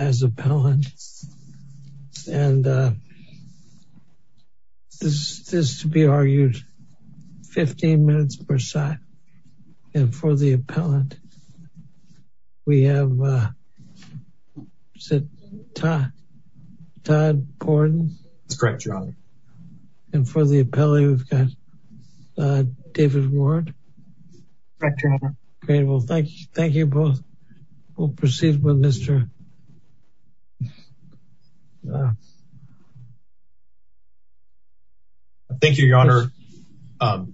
as appellant. And this is to be argued 15 minutes per side. And for the appellant, we have Todd Borden. And for the appellant, we've got David Ward. Thank you both. We'll proceed with Mr. Thank you, Your Honor.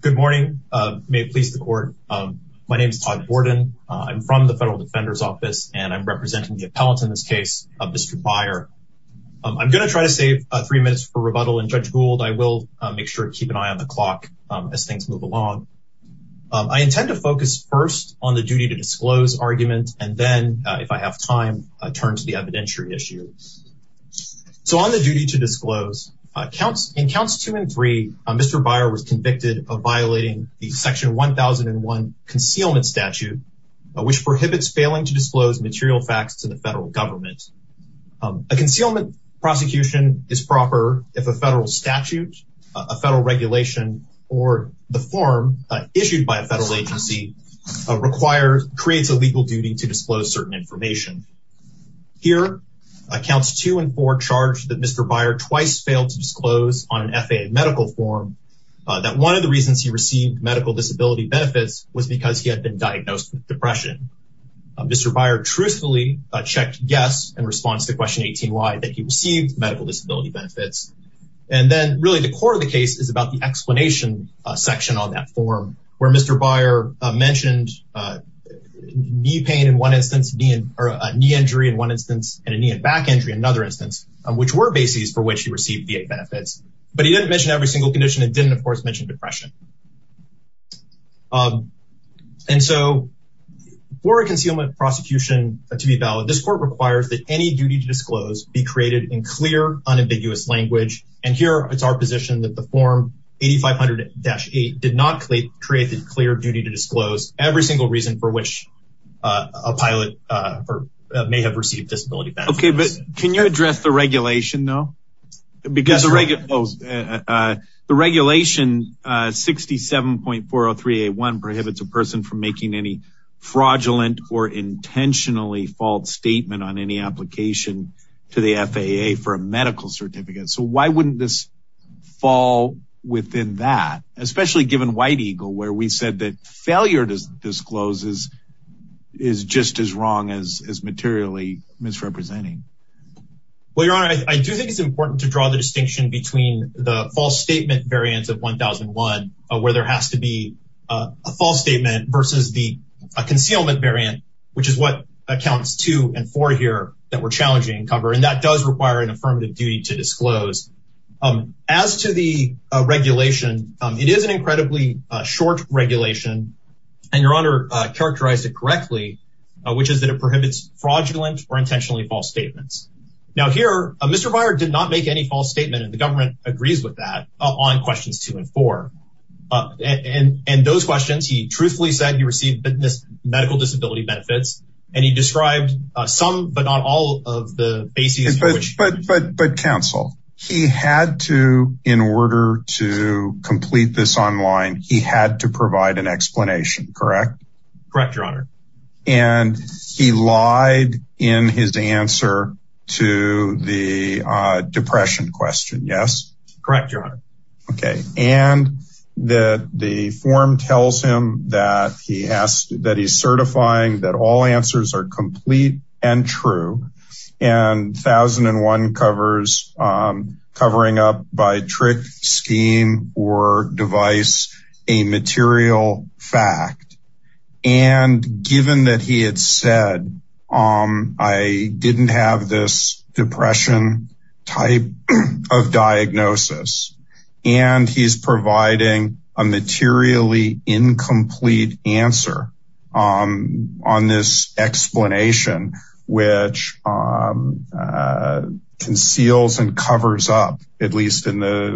Good morning. May it please the court. My name is Todd Borden. I'm from the and I'm representing the appellant in this case of Mr. Beyer. I'm going to try to save three minutes for rebuttal. And Judge Gould, I will make sure to keep an eye on the clock as things move along. I intend to focus first on the duty to disclose argument. And then if I have time, turn to the evidentiary issue. So on the duty to disclose, in counts two and three, Mr. Beyer was convicted of violating the section 1001 concealment statute, which prohibits failing to disclose material facts to the federal government. A concealment prosecution is proper if a federal statute, a federal regulation, or the form issued by a federal agency requires, creates a legal duty to disclose certain information. Here, counts two and four charge that Mr. Beyer twice failed to disclose on an FAA medical form that one of the reasons he received medical disability benefits was because he had been diagnosed with depression. Mr. Beyer truthfully checked yes in response to question 18-Y that he received medical disability benefits. And then really the core of the case is about the explanation section on that form where Mr. Beyer mentioned knee pain in one instance, knee injury in one instance, and a knee and back injury in another instance, which were bases for which he received VA benefits. But he didn't mention every one. And so for a concealment prosecution to be valid, this court requires that any duty to disclose be created in clear, unambiguous language. And here it's our position that the form 8500-8 did not create the clear duty to disclose every single reason for which a pilot may have received disability benefits. Okay, but can you address the regulation though? Because the regulation 67.403A1 prohibits a person from making any fraudulent or intentionally false statement on any application to the FAA for a medical certificate. So why wouldn't this fall within that, especially given White Eagle where we said that failure to disclose is just as wrong as materially misrepresenting? Well, Your Honor, I do think it's important to draw the distinction between the false statement variants of 1001, where there has to be a false statement versus the concealment variant, which is what accounts to and for here that we're challenging cover. And that does require an affirmative duty to disclose. As to the regulation, it is an incredibly short regulation, and Your Honor characterized it correctly, which is that it prohibits fraudulent or intentionally false statements. Now here, Mr. Byer did not make any false statement and the government agrees with that on questions two and four. And those questions, he truthfully said he received medical disability benefits. And he online, he had to provide an explanation, correct? Correct, Your Honor. And he lied in his answer to the depression question. Yes. Correct, Your Honor. Okay. And that the form tells him that he asked that he's certifying that all answers are complete and true. And 1001 covers covering up by trick scheme or device, a material fact. And given that he had said, I didn't have this depression type of diagnosis. And he's providing a materially incomplete answer on this explanation, which conceals and covers up at least in the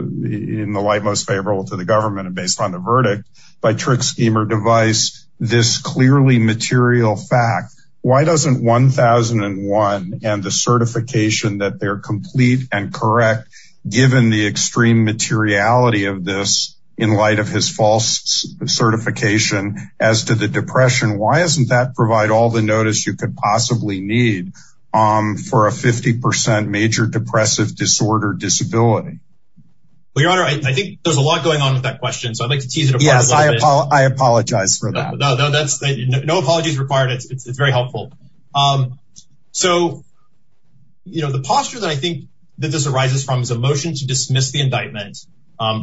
in the light most favorable to the government and based on the verdict by trick scheme or device, this clearly material fact, why doesn't 1001 and the certification that they're complete and correct, given the extreme materiality of this in light of his false certification as to the depression, why isn't that provide all the notice you could possibly need for a 50% major depressive disorder disability? Well, Your Honor, I think there's a lot going on with that question. So I'd like to tease it. Yes, I apologize. I apologize for that. No, that's no apologies required. It's very motion to dismiss the indictment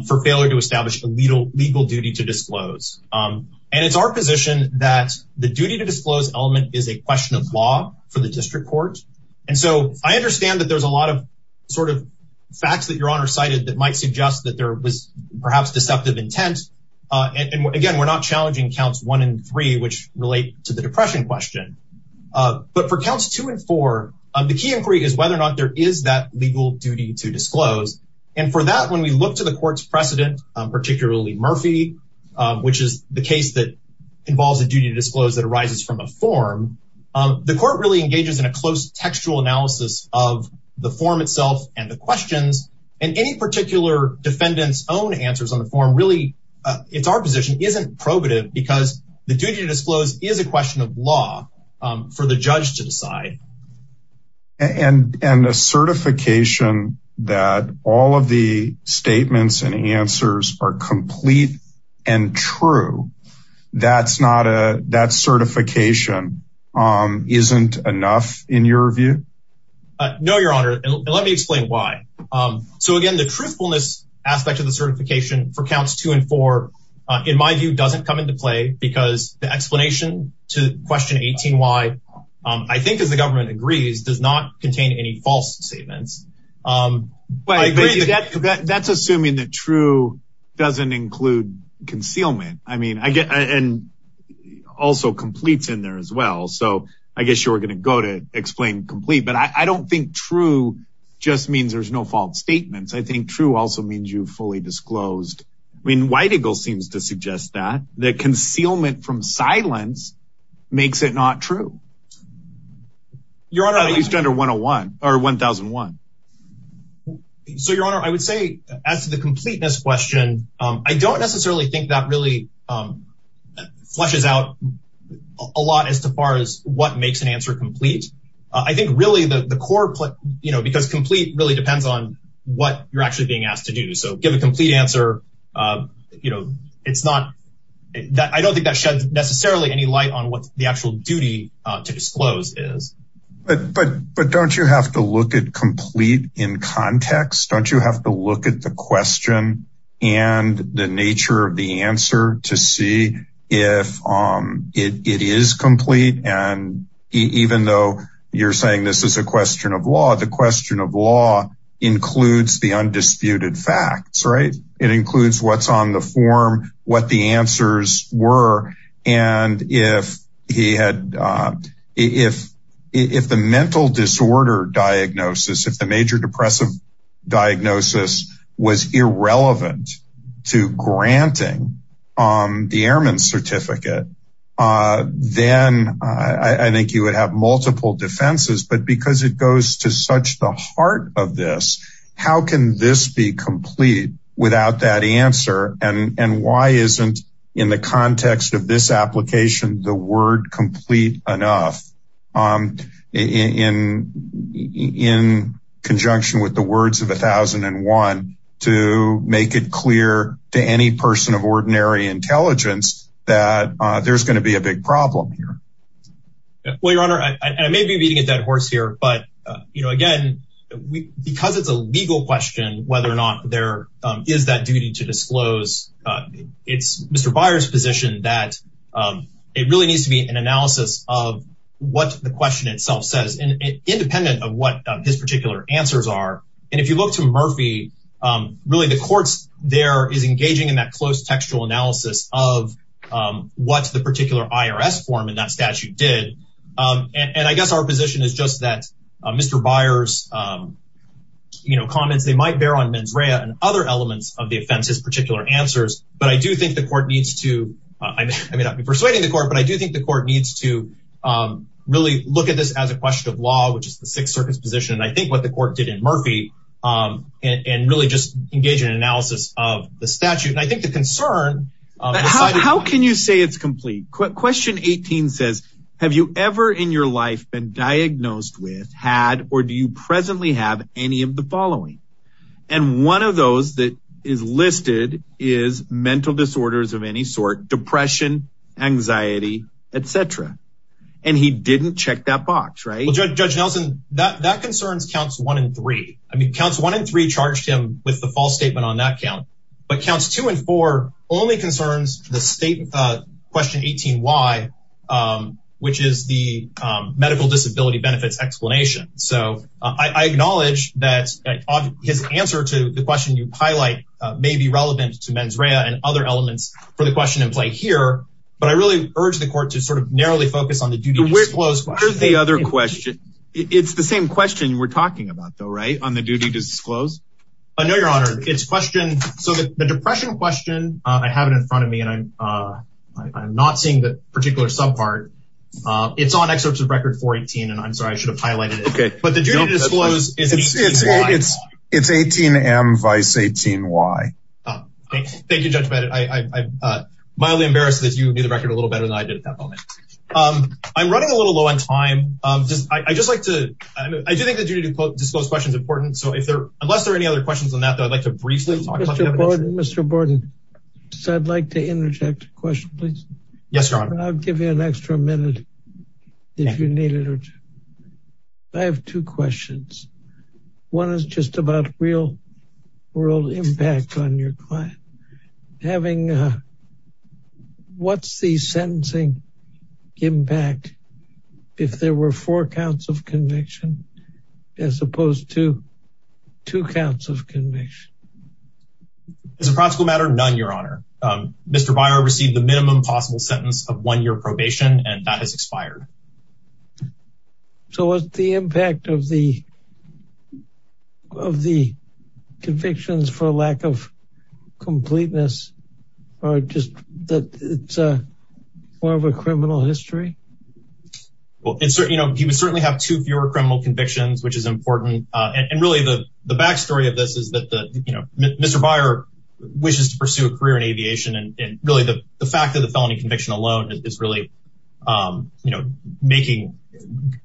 for failure to establish a legal legal duty to disclose. And it's our position that the duty to disclose element is a question of law for the district court. And so I understand that there's a lot of sort of facts that Your Honor cited that might suggest that there was perhaps deceptive intent. And again, we're not challenging counts one and three, which relate to the depression question. But for counts two and four, the key inquiry is whether or not there is that legal duty to disclose. And for that, when we look to the court's precedent, particularly Murphy, which is the case that involves a duty to disclose that arises from a form, the court really engages in a close textual analysis of the form itself and the questions and any particular defendants own answers on the form really, it's our position isn't probative because the duty to disclose is a question of law for the judge to decide. And and a certification that all of the statements and answers are complete and true. That's not a that certification isn't enough in your view. No, Your Honor. Let me explain why. So again, the truthfulness aspect of the certification for counts two and four, in my view, doesn't come into because the explanation to question 18. Why? I think as the government agrees does not contain any false statements. But that's assuming that true doesn't include concealment. I mean, I get and also completes in there as well. So I guess you're going to go to explain complete, but I don't think true just means there's no false statements. I think true also means you fully disclosed. I mean, White Eagle seems to suggest that the concealment from silence makes it not true. Your Honor, I use gender 101 or 1001. So Your Honor, I would say as to the completeness question, I don't necessarily think that really flushes out a lot as far as what makes an answer complete. I think really the core, you know, because complete really depends on what you're actually being asked to do. So give a complete answer. You know, it's not that I don't think that sheds necessarily any light on what the actual duty to disclose is. But But don't you have to look at complete in context? Don't you have to look at the question and the nature of the answer to see if it is complete. And even though you're saying this is a question of law, the question of law includes the undisputed facts, right? It includes what's on the form, what the answers were. And if he had, if, if the mental disorder diagnosis, if the major depressive diagnosis was irrelevant to granting the airman certificate, then I think you would have multiple defenses, but because it goes to such the heart of this, how can this be complete without that answer? And why isn't in the context of this application, the word complete enough in conjunction with the words of 1001 to make it clear to any person of ordinary intelligence that there's going to be a But, you know, again, we because it's a legal question, whether or not there is that duty to disclose, it's Mr. Byers position that it really needs to be an analysis of what the question itself says, independent of what his particular answers are. And if you look to Murphy, really, the courts there is engaging in that close textual analysis of what the particular IRS form in that Mr. Byers, you know, comments, they might bear on mens rea and other elements of the offense, his particular answers. But I do think the court needs to, I may not be persuading the court, but I do think the court needs to really look at this as a question of law, which is the Sixth Circus position. And I think what the court did in Murphy, and really just engage in analysis of the statute, and I think the concern... How can you say it's complete? Question 18 says, have you ever in your life been diagnosed with, had, or do you presently have any of the following? And one of those that is listed is mental disorders of any sort, depression, anxiety, etc. And he didn't check that box, right? Judge Nelson, that concerns counts one and three. I mean, counts one and three charged him with the false statement on that count. But counts two and only concerns the state question 18 why, which is the medical disability benefits explanation. So I acknowledge that his answer to the question you highlight may be relevant to mens rea and other elements for the question in play here. But I really urge the court to sort of narrowly focus on the duty to disclose. What is the other question? It's the same question we're talking about, though, right? On the duty to disclose? I know, Your Honor, it's a question. So the depression question, I have it in front of me, and I'm not seeing the particular subpart. It's on excerpts of Record 418. And I'm sorry, I should have highlighted it. Okay, but the duty to disclose is... It's 18M, vice 18Y. Thank you, Judge Bennett. I'm mildly embarrassed that you knew the record a little better than I did at that moment. I'm running a little low on time. I just like to... I do think the duty to disclose question is important. So unless there are any other questions on that, I'd like to briefly talk about the evidence. Mr. Borden, I'd like to interject a question, please. Yes, Your Honor. I'll give you an extra minute if you need it. I have two questions. One is just about real world impact on your client. What's the sentencing impact if there were four counts of conviction, as opposed to two counts of conviction? As a practical matter, none, Your Honor. Mr. Byer received the minimum possible sentence of one year probation, and that has expired. So what's the impact of the convictions for lack of completeness, or just that it's more of a criminal history? Well, he would certainly have two fewer criminal convictions, which is important. And really the backstory of this is that Mr. Byer wishes to pursue a career in aviation, and really the fact that the felony conviction alone is really making...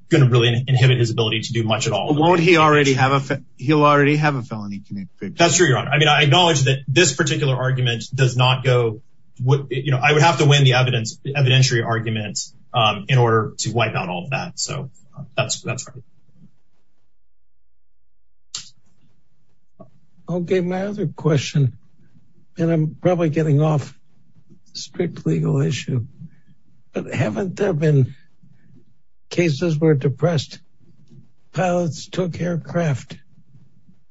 Going to really inhibit his ability to do much at all. Won't he already have a... He'll already have a felony conviction. That's true, Your Honor. I mean, I acknowledge that this particular argument does not go... I would have to win the evidentiary arguments in order to wipe out all of that. So that's right. Okay. My other question, and I'm probably getting off strict legal issue, but haven't there been cases where depressed pilots took aircraft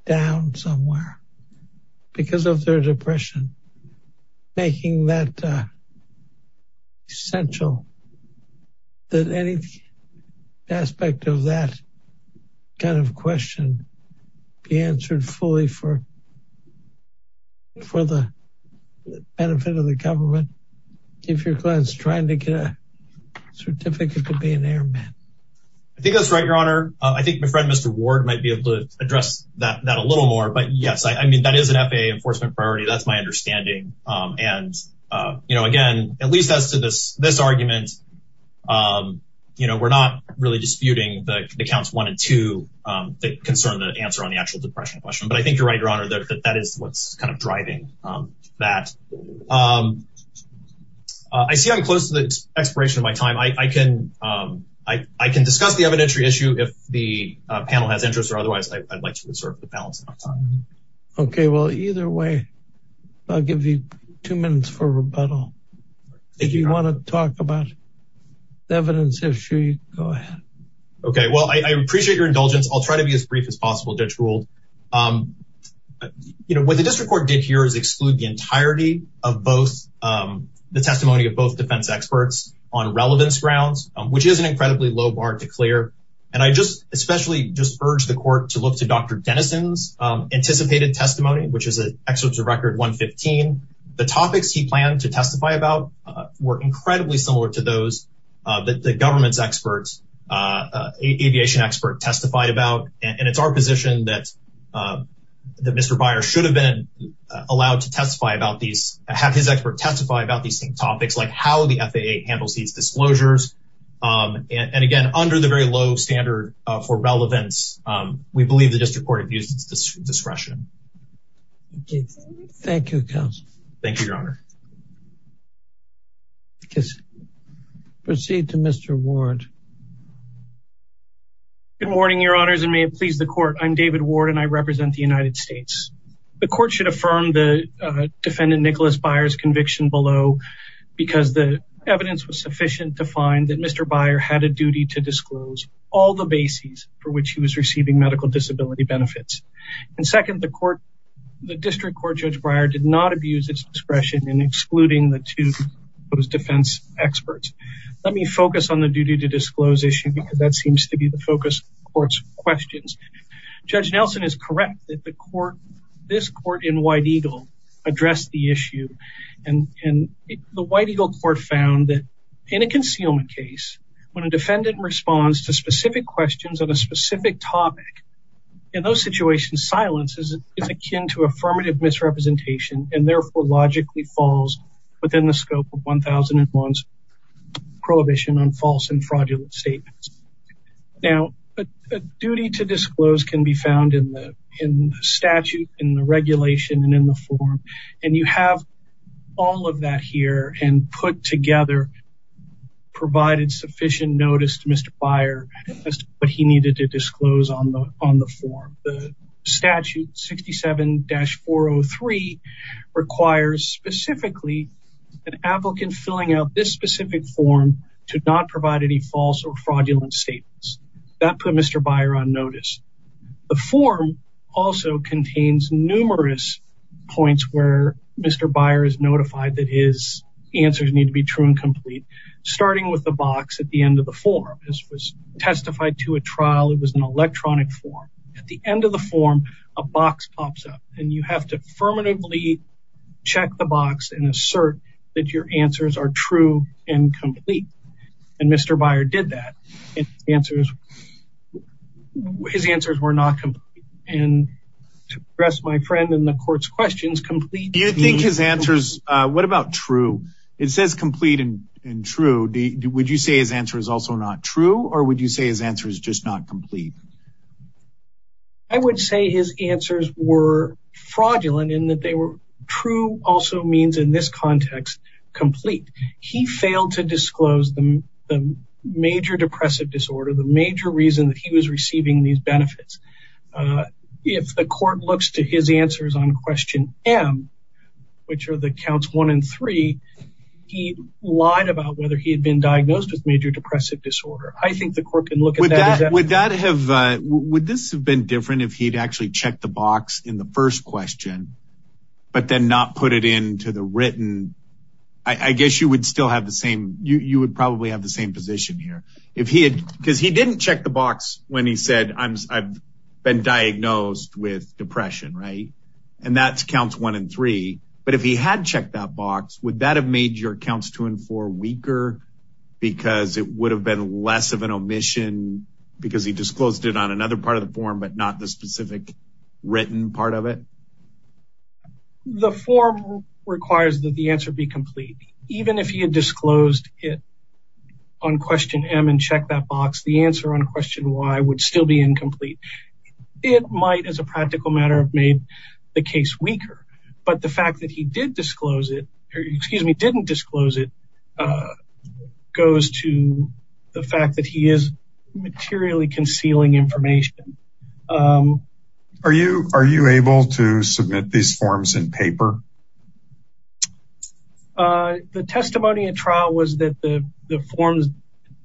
down somewhere? Because of their depression, making that essential that any aspect of that kind of question be answered fully for the benefit of the government, if your client's trying to get a certificate to be an airman. I think that's right, Your Honor. I think my that is an FAA enforcement priority. That's my understanding. And again, at least as to this argument, we're not really disputing the counts one and two that concern the answer on the actual depression question, but I think you're right, Your Honor, that that is what's kind of driving that. I see I'm close to the expiration of my time. I can discuss the evidentiary issue if the panel has interest or otherwise, I'd like to reserve the balance of my time. Okay. Well, either way, I'll give you two minutes for rebuttal. If you want to talk about the evidence issue, go ahead. Okay. Well, I appreciate your indulgence. I'll try to be as brief as possible, Judge Gould. What the district court did here is exclude the entirety of both the testimony of both defense experts on relevance grounds, which is an incredibly low bar to clear. And I just especially just urge the court to look to Dr. Denison's anticipated testimony, which is an excerpt of record 115. The topics he planned to testify about were incredibly similar to those that the government's aviation expert testified about. And it's our position that Mr. Beyer should have been allowed to testify about these, have his expert testify about these same topics, like how the FAA handles these disclosures. And again, under the very low standard for relevance, we believe the district court abused its discretion. Thank you, counsel. Thank you, Your Honor. Proceed to Mr. Ward. Good morning, Your Honors, and may it please the court. I'm David Ward and I represent the because the evidence was sufficient to find that Mr. Beyer had a duty to disclose all the bases for which he was receiving medical disability benefits. And second, the district court, Judge Breyer, did not abuse its discretion in excluding the two of those defense experts. Let me focus on the duty to disclose issue because that seems to be the focus of the court's questions. Judge Nelson is correct that this court in White Eagle addressed the issue. And the White Eagle court found that in a concealment case, when a defendant responds to specific questions on a specific topic, in those situations, silence is akin to affirmative misrepresentation and therefore logically falls within the scope of 1001's prohibition on false and fraudulent statements. Now, a duty to disclose can be found in the statute, in the regulation, and in the form. And you have all of that here and put together, provided sufficient notice to Mr. Beyer as to what he needed to disclose on the form. The statute 67-403 requires specifically an applicant filling out this specific form to not provide any false or fraudulent statements. That put Mr. Beyer on notice. The form also contains numerous points where Mr. Beyer is notified that his answers need to be true and complete, starting with the box at the end of the form. This was testified to a trial. It was an electronic form. At the end of the form, a box pops up and you have to affirmatively check the box and assert that your answers are true and complete. And Mr. Beyer did that. His answers were not complete. And to address my friend in the court's questions, complete... Do you think his answers, what about true? It says complete and true. Would you say his answer is also not true or would you say his answer is just not complete? I would say his answers were fraudulent in that they were true also means in this context complete. He failed to disclose the major depressive disorder, the major reason that he was receiving these benefits. If the court looks to his answers on question M, which are the counts one and three, he lied about whether he had been diagnosed with major depression. Would this have been different if he'd actually checked the box in the first question but then not put it into the written? I guess you would probably have the same position here. Because he didn't check the box when he said I've been diagnosed with depression, right? And that's counts one and three. But if he had checked that box, would that have made your omission because he disclosed it on another part of the form but not the specific written part of it? The form requires that the answer be complete. Even if he had disclosed it on question M and checked that box, the answer on question Y would still be incomplete. It might as a practical matter have made the case weaker. But the fact that he did disclose it, or excuse me, didn't disclose it goes to the fact that he is materially concealing information. Are you able to submit these forms in paper? The testimony in trial was that the forms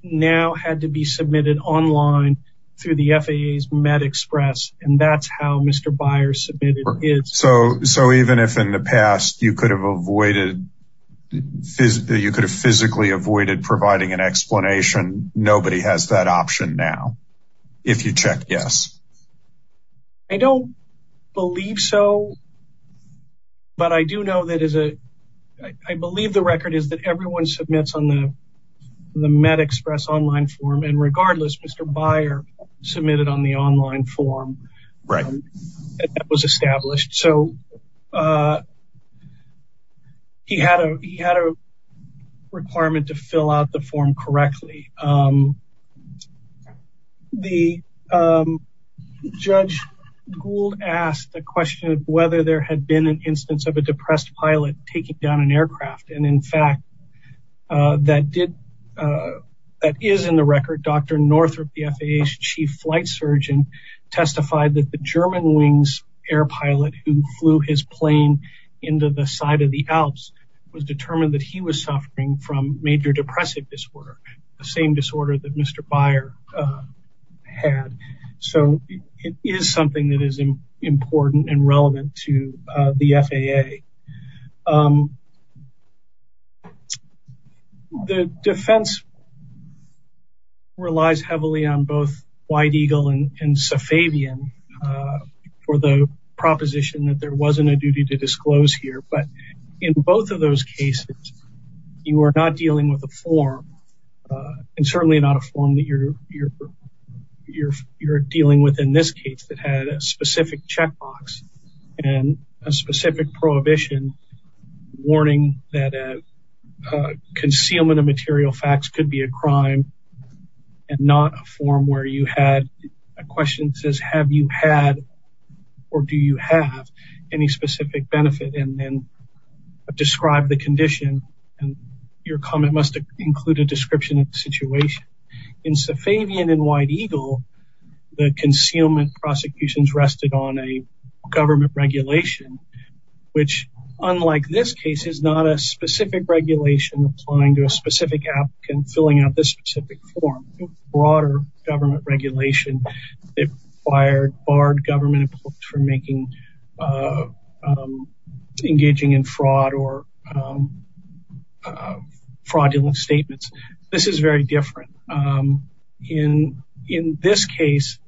now had to be submitted online through the FAA's MedExpress. And that's how Mr. Byers submitted it. So even if in the past you could have avoided you could have physically avoided providing an explanation, nobody has that option now. If you check yes. I don't believe so. But I do know that is a, I believe the record is that everyone submits on the MedExpress online form. And regardless, Mr. Byer submitted on the online form. Right. That was established. So he had a requirement to fill out the form correctly. The Judge Gould asked the question whether there had been an instance of a depressed pilot taking down an aircraft. And in fact, that is in the record. Dr. Northrup, the FAA's Chief Flight Surgeon, testified that the German wings air pilot who flew his plane into the side of the Alps was determined that he was suffering from major depressive disorder, the same disorder that Mr. Byer had. So it is something that is important and relevant to the FAA. The defense relies heavily on both White Eagle and Safavian for the proposition that there wasn't a duty to disclose here. But in both of those cases, you are not dealing with a form and certainly not a form that you're dealing with in this case that had a specific checkbox and a specific prohibition warning that a concealment of material facts could be a crime and not a form where you had a question that says have you had or do you have any specific benefit and then describe the condition. And your comment must include a description of the situation. In Safavian and White Eagle, the concealment prosecutions rested on a government regulation, which unlike this case is not a specific regulation applying to a specific applicant filling out this specific form. It's a broader government regulation. It required barred government for engaging in fraud or fraudulent statements. This is very different. In this case,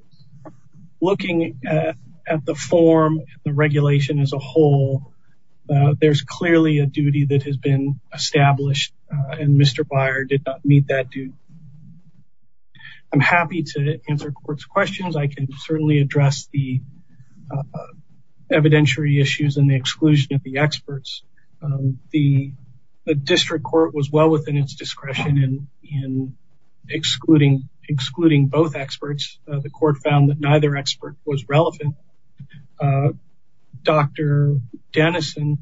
looking at the form, the regulation as a whole, there's clearly a duty that has been established and Mr. Byer did not meet that duty. I'm happy to answer court's questions. I can certainly address the evidentiary issues and the exclusion of the experts. The district court was well within its discretion in excluding both experts. The court found that neither expert was relevant. Dr. Dennison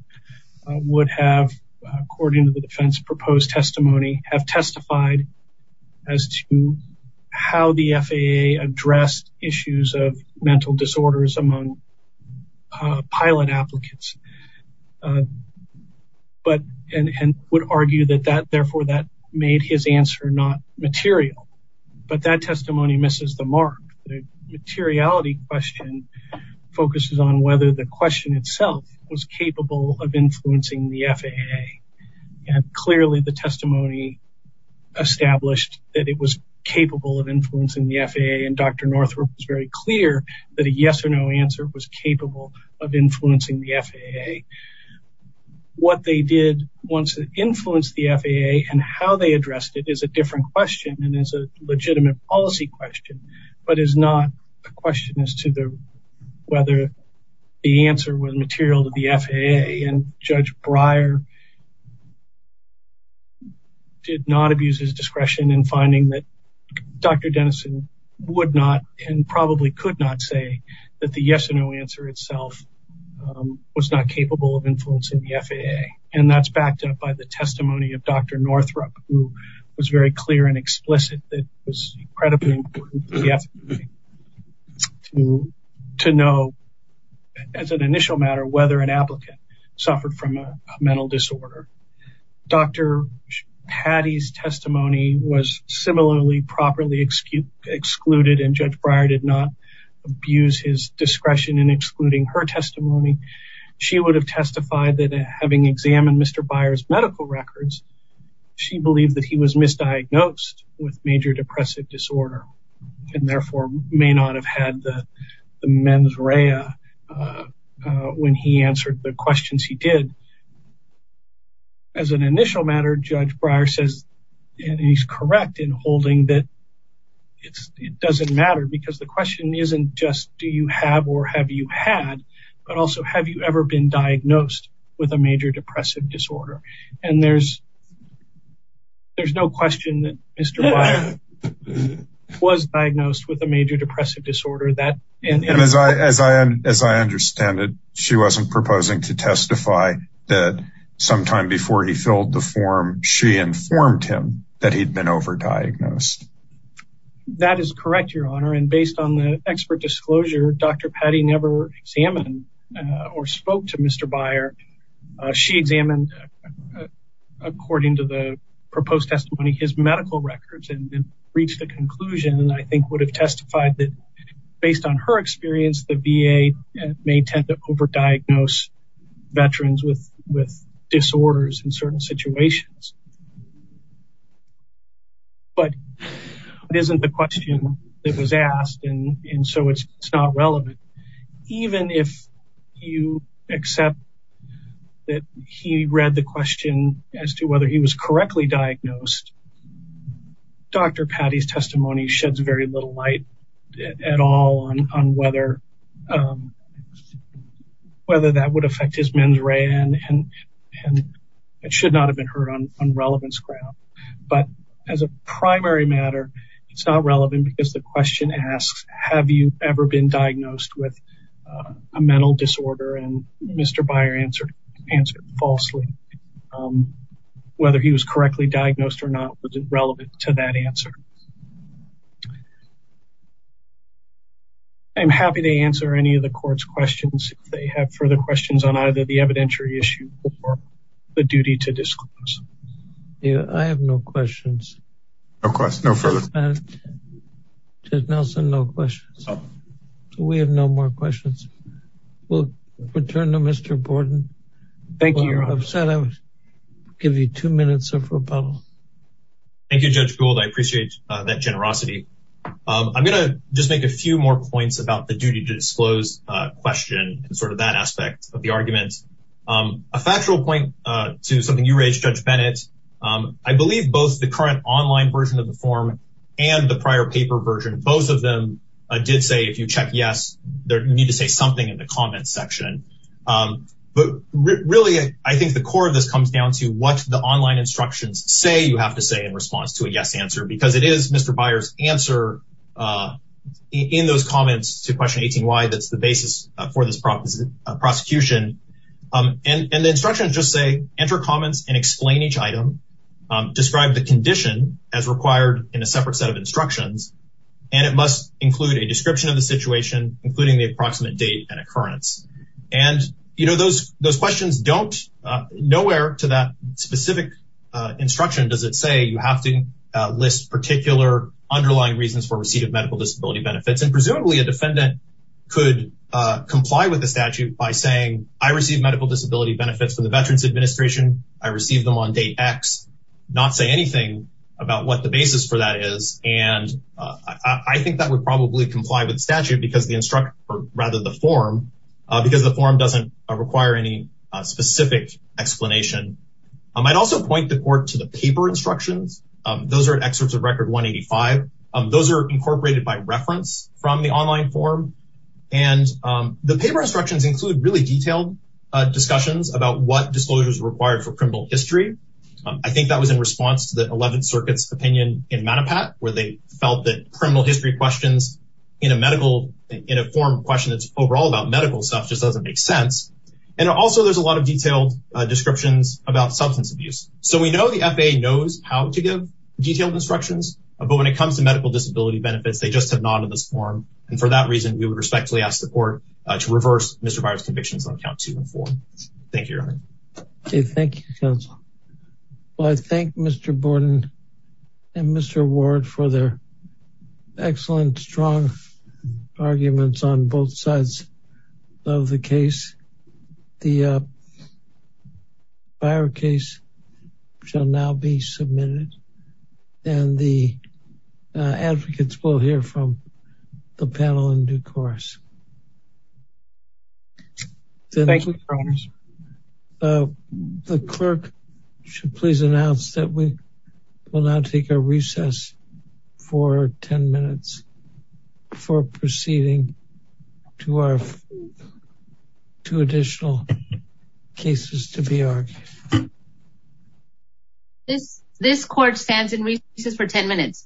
would have, according to the defense proposed testimony, have testified as to how the FAA addressed issues of mental disorders among pilot applicants and would argue that therefore that made his answer not material. But that testimony misses the mark. The materiality question focuses on whether the question itself was capable of influencing the FAA. Clearly, the testimony established that it was capable of influencing the FAA and Dr. Northrup was very clear that a yes or no answer was capable of influencing the FAA. What they did once it influenced the FAA and how they addressed it is a different question and is a legitimate policy question, but is not a question as to whether the answer was material to the FAA and Judge Breyer did not abuse his discretion in finding that Dr. Dennison would not and probably could not say that the yes or no answer itself was not capable of influencing the FAA. And that's backed up by the testimony of Dr. Northrup, who was very clear and explicit that it was incredibly important to the FAA to know, as an initial matter, whether an applicant suffered from a mental disorder. Dr. Patty's testimony was similarly properly excluded and Judge Breyer did not abuse his discretion in excluding her testimony. She would have testified that having examined Mr. Breyer's medical records, she believed that he was misdiagnosed with major depressive disorder and therefore may not have had the mens rea when he answered the questions he did. As an initial matter, Judge Breyer says, and he's correct in holding that it doesn't matter because the question isn't just do you have or have you had, but also have you ever been diagnosed with a major depressive disorder? And there's no question that Mr. Breyer was diagnosed with a major depressive disorder. And as I understand it, she wasn't proposing to testify that sometime before he filled the form, she informed him that he'd been overdiagnosed. That is correct, Your Honor. And based on the expert disclosure, Dr. Patty never examined or spoke to Mr. Breyer. She examined, according to the proposed testimony, his medical records and reached the conclusion, I think, would have testified that based on her experience, the VA may tend to overdiagnose veterans with disorders in certain situations. But it isn't the question that was asked, and so it's not relevant. Even if you accept that he read the question as to whether he was correctly diagnosed, Dr. Patty's testimony sheds very little light at all on whether that would affect his mens rea and it should not have been heard on relevance ground. But as a primary matter, it's not relevant because the question asks, have you ever been diagnosed with a mental disorder? And Mr. Breyer answered falsely. Whether he was correctly diagnosed or not wasn't relevant to that answer. I'm happy to answer any of the court's questions. If they have further questions on the evidentiary issue or the duty to disclose. I have no questions. No questions. No further. Judge Nelson, no questions. We have no more questions. We'll return to Mr. Borden. Thank you, Your Honor. I'll give you two minutes of rebuttal. Thank you, Judge Gould. I appreciate that generosity. I'm going to just make a few more points about the duty to disclose question and sort of that aspect of the arguments. A factual point to something you raised, Judge Bennett, I believe both the current online version of the form and the prior paper version, both of them did say if you check yes, you need to say something in the comments section. But really, I think the core of this comes down to what the online instructions say you have to say in response to a yes answer because it is Mr. Borden's comments to question 18Y that's the basis for this prosecution. And the instructions just say enter comments and explain each item. Describe the condition as required in a separate set of instructions. And it must include a description of the situation, including the approximate date and occurrence. And, you know, those questions don't, nowhere to that specific instruction does it say you have to list particular underlying reasons for receipt of medical disability benefits. And presumably a defendant could comply with the statute by saying I received medical disability benefits from the Veterans Administration. I received them on date X, not say anything about what the basis for that is. And I think that would probably comply with statute because the instructor, or rather the form, because the form doesn't require any specific explanation. I might also point the court to the paper instructions. Those are excerpts of record 185. Those are incorporated by reference from the online form. And the paper instructions include really detailed discussions about what disclosures are required for criminal history. I think that was in response to the 11th Circuit's opinion in Manapat where they felt that criminal history questions in a medical, in a form question that's overall about medical stuff just doesn't make sense. And also there's a lot of detailed descriptions about substance abuse. So we know the FAA knows how to give detailed instructions, but when it comes to medical disability benefits, they just have not in this form. And for that reason, we would respectfully ask the court to reverse Mr. Byer's convictions on count two and four. Thank you, Your Honor. Okay. Thank you, counsel. Well, I thank Mr. Borden and Mr. Ward for their excellent, strong arguments on both sides of the case. The Byer case shall now be submitted. And the advocates will hear from the panel in due course. The clerk should please announce that we will now take a recess for 10 minutes for proceeding to our two additional cases to be argued. This court stands in recess for 10 minutes.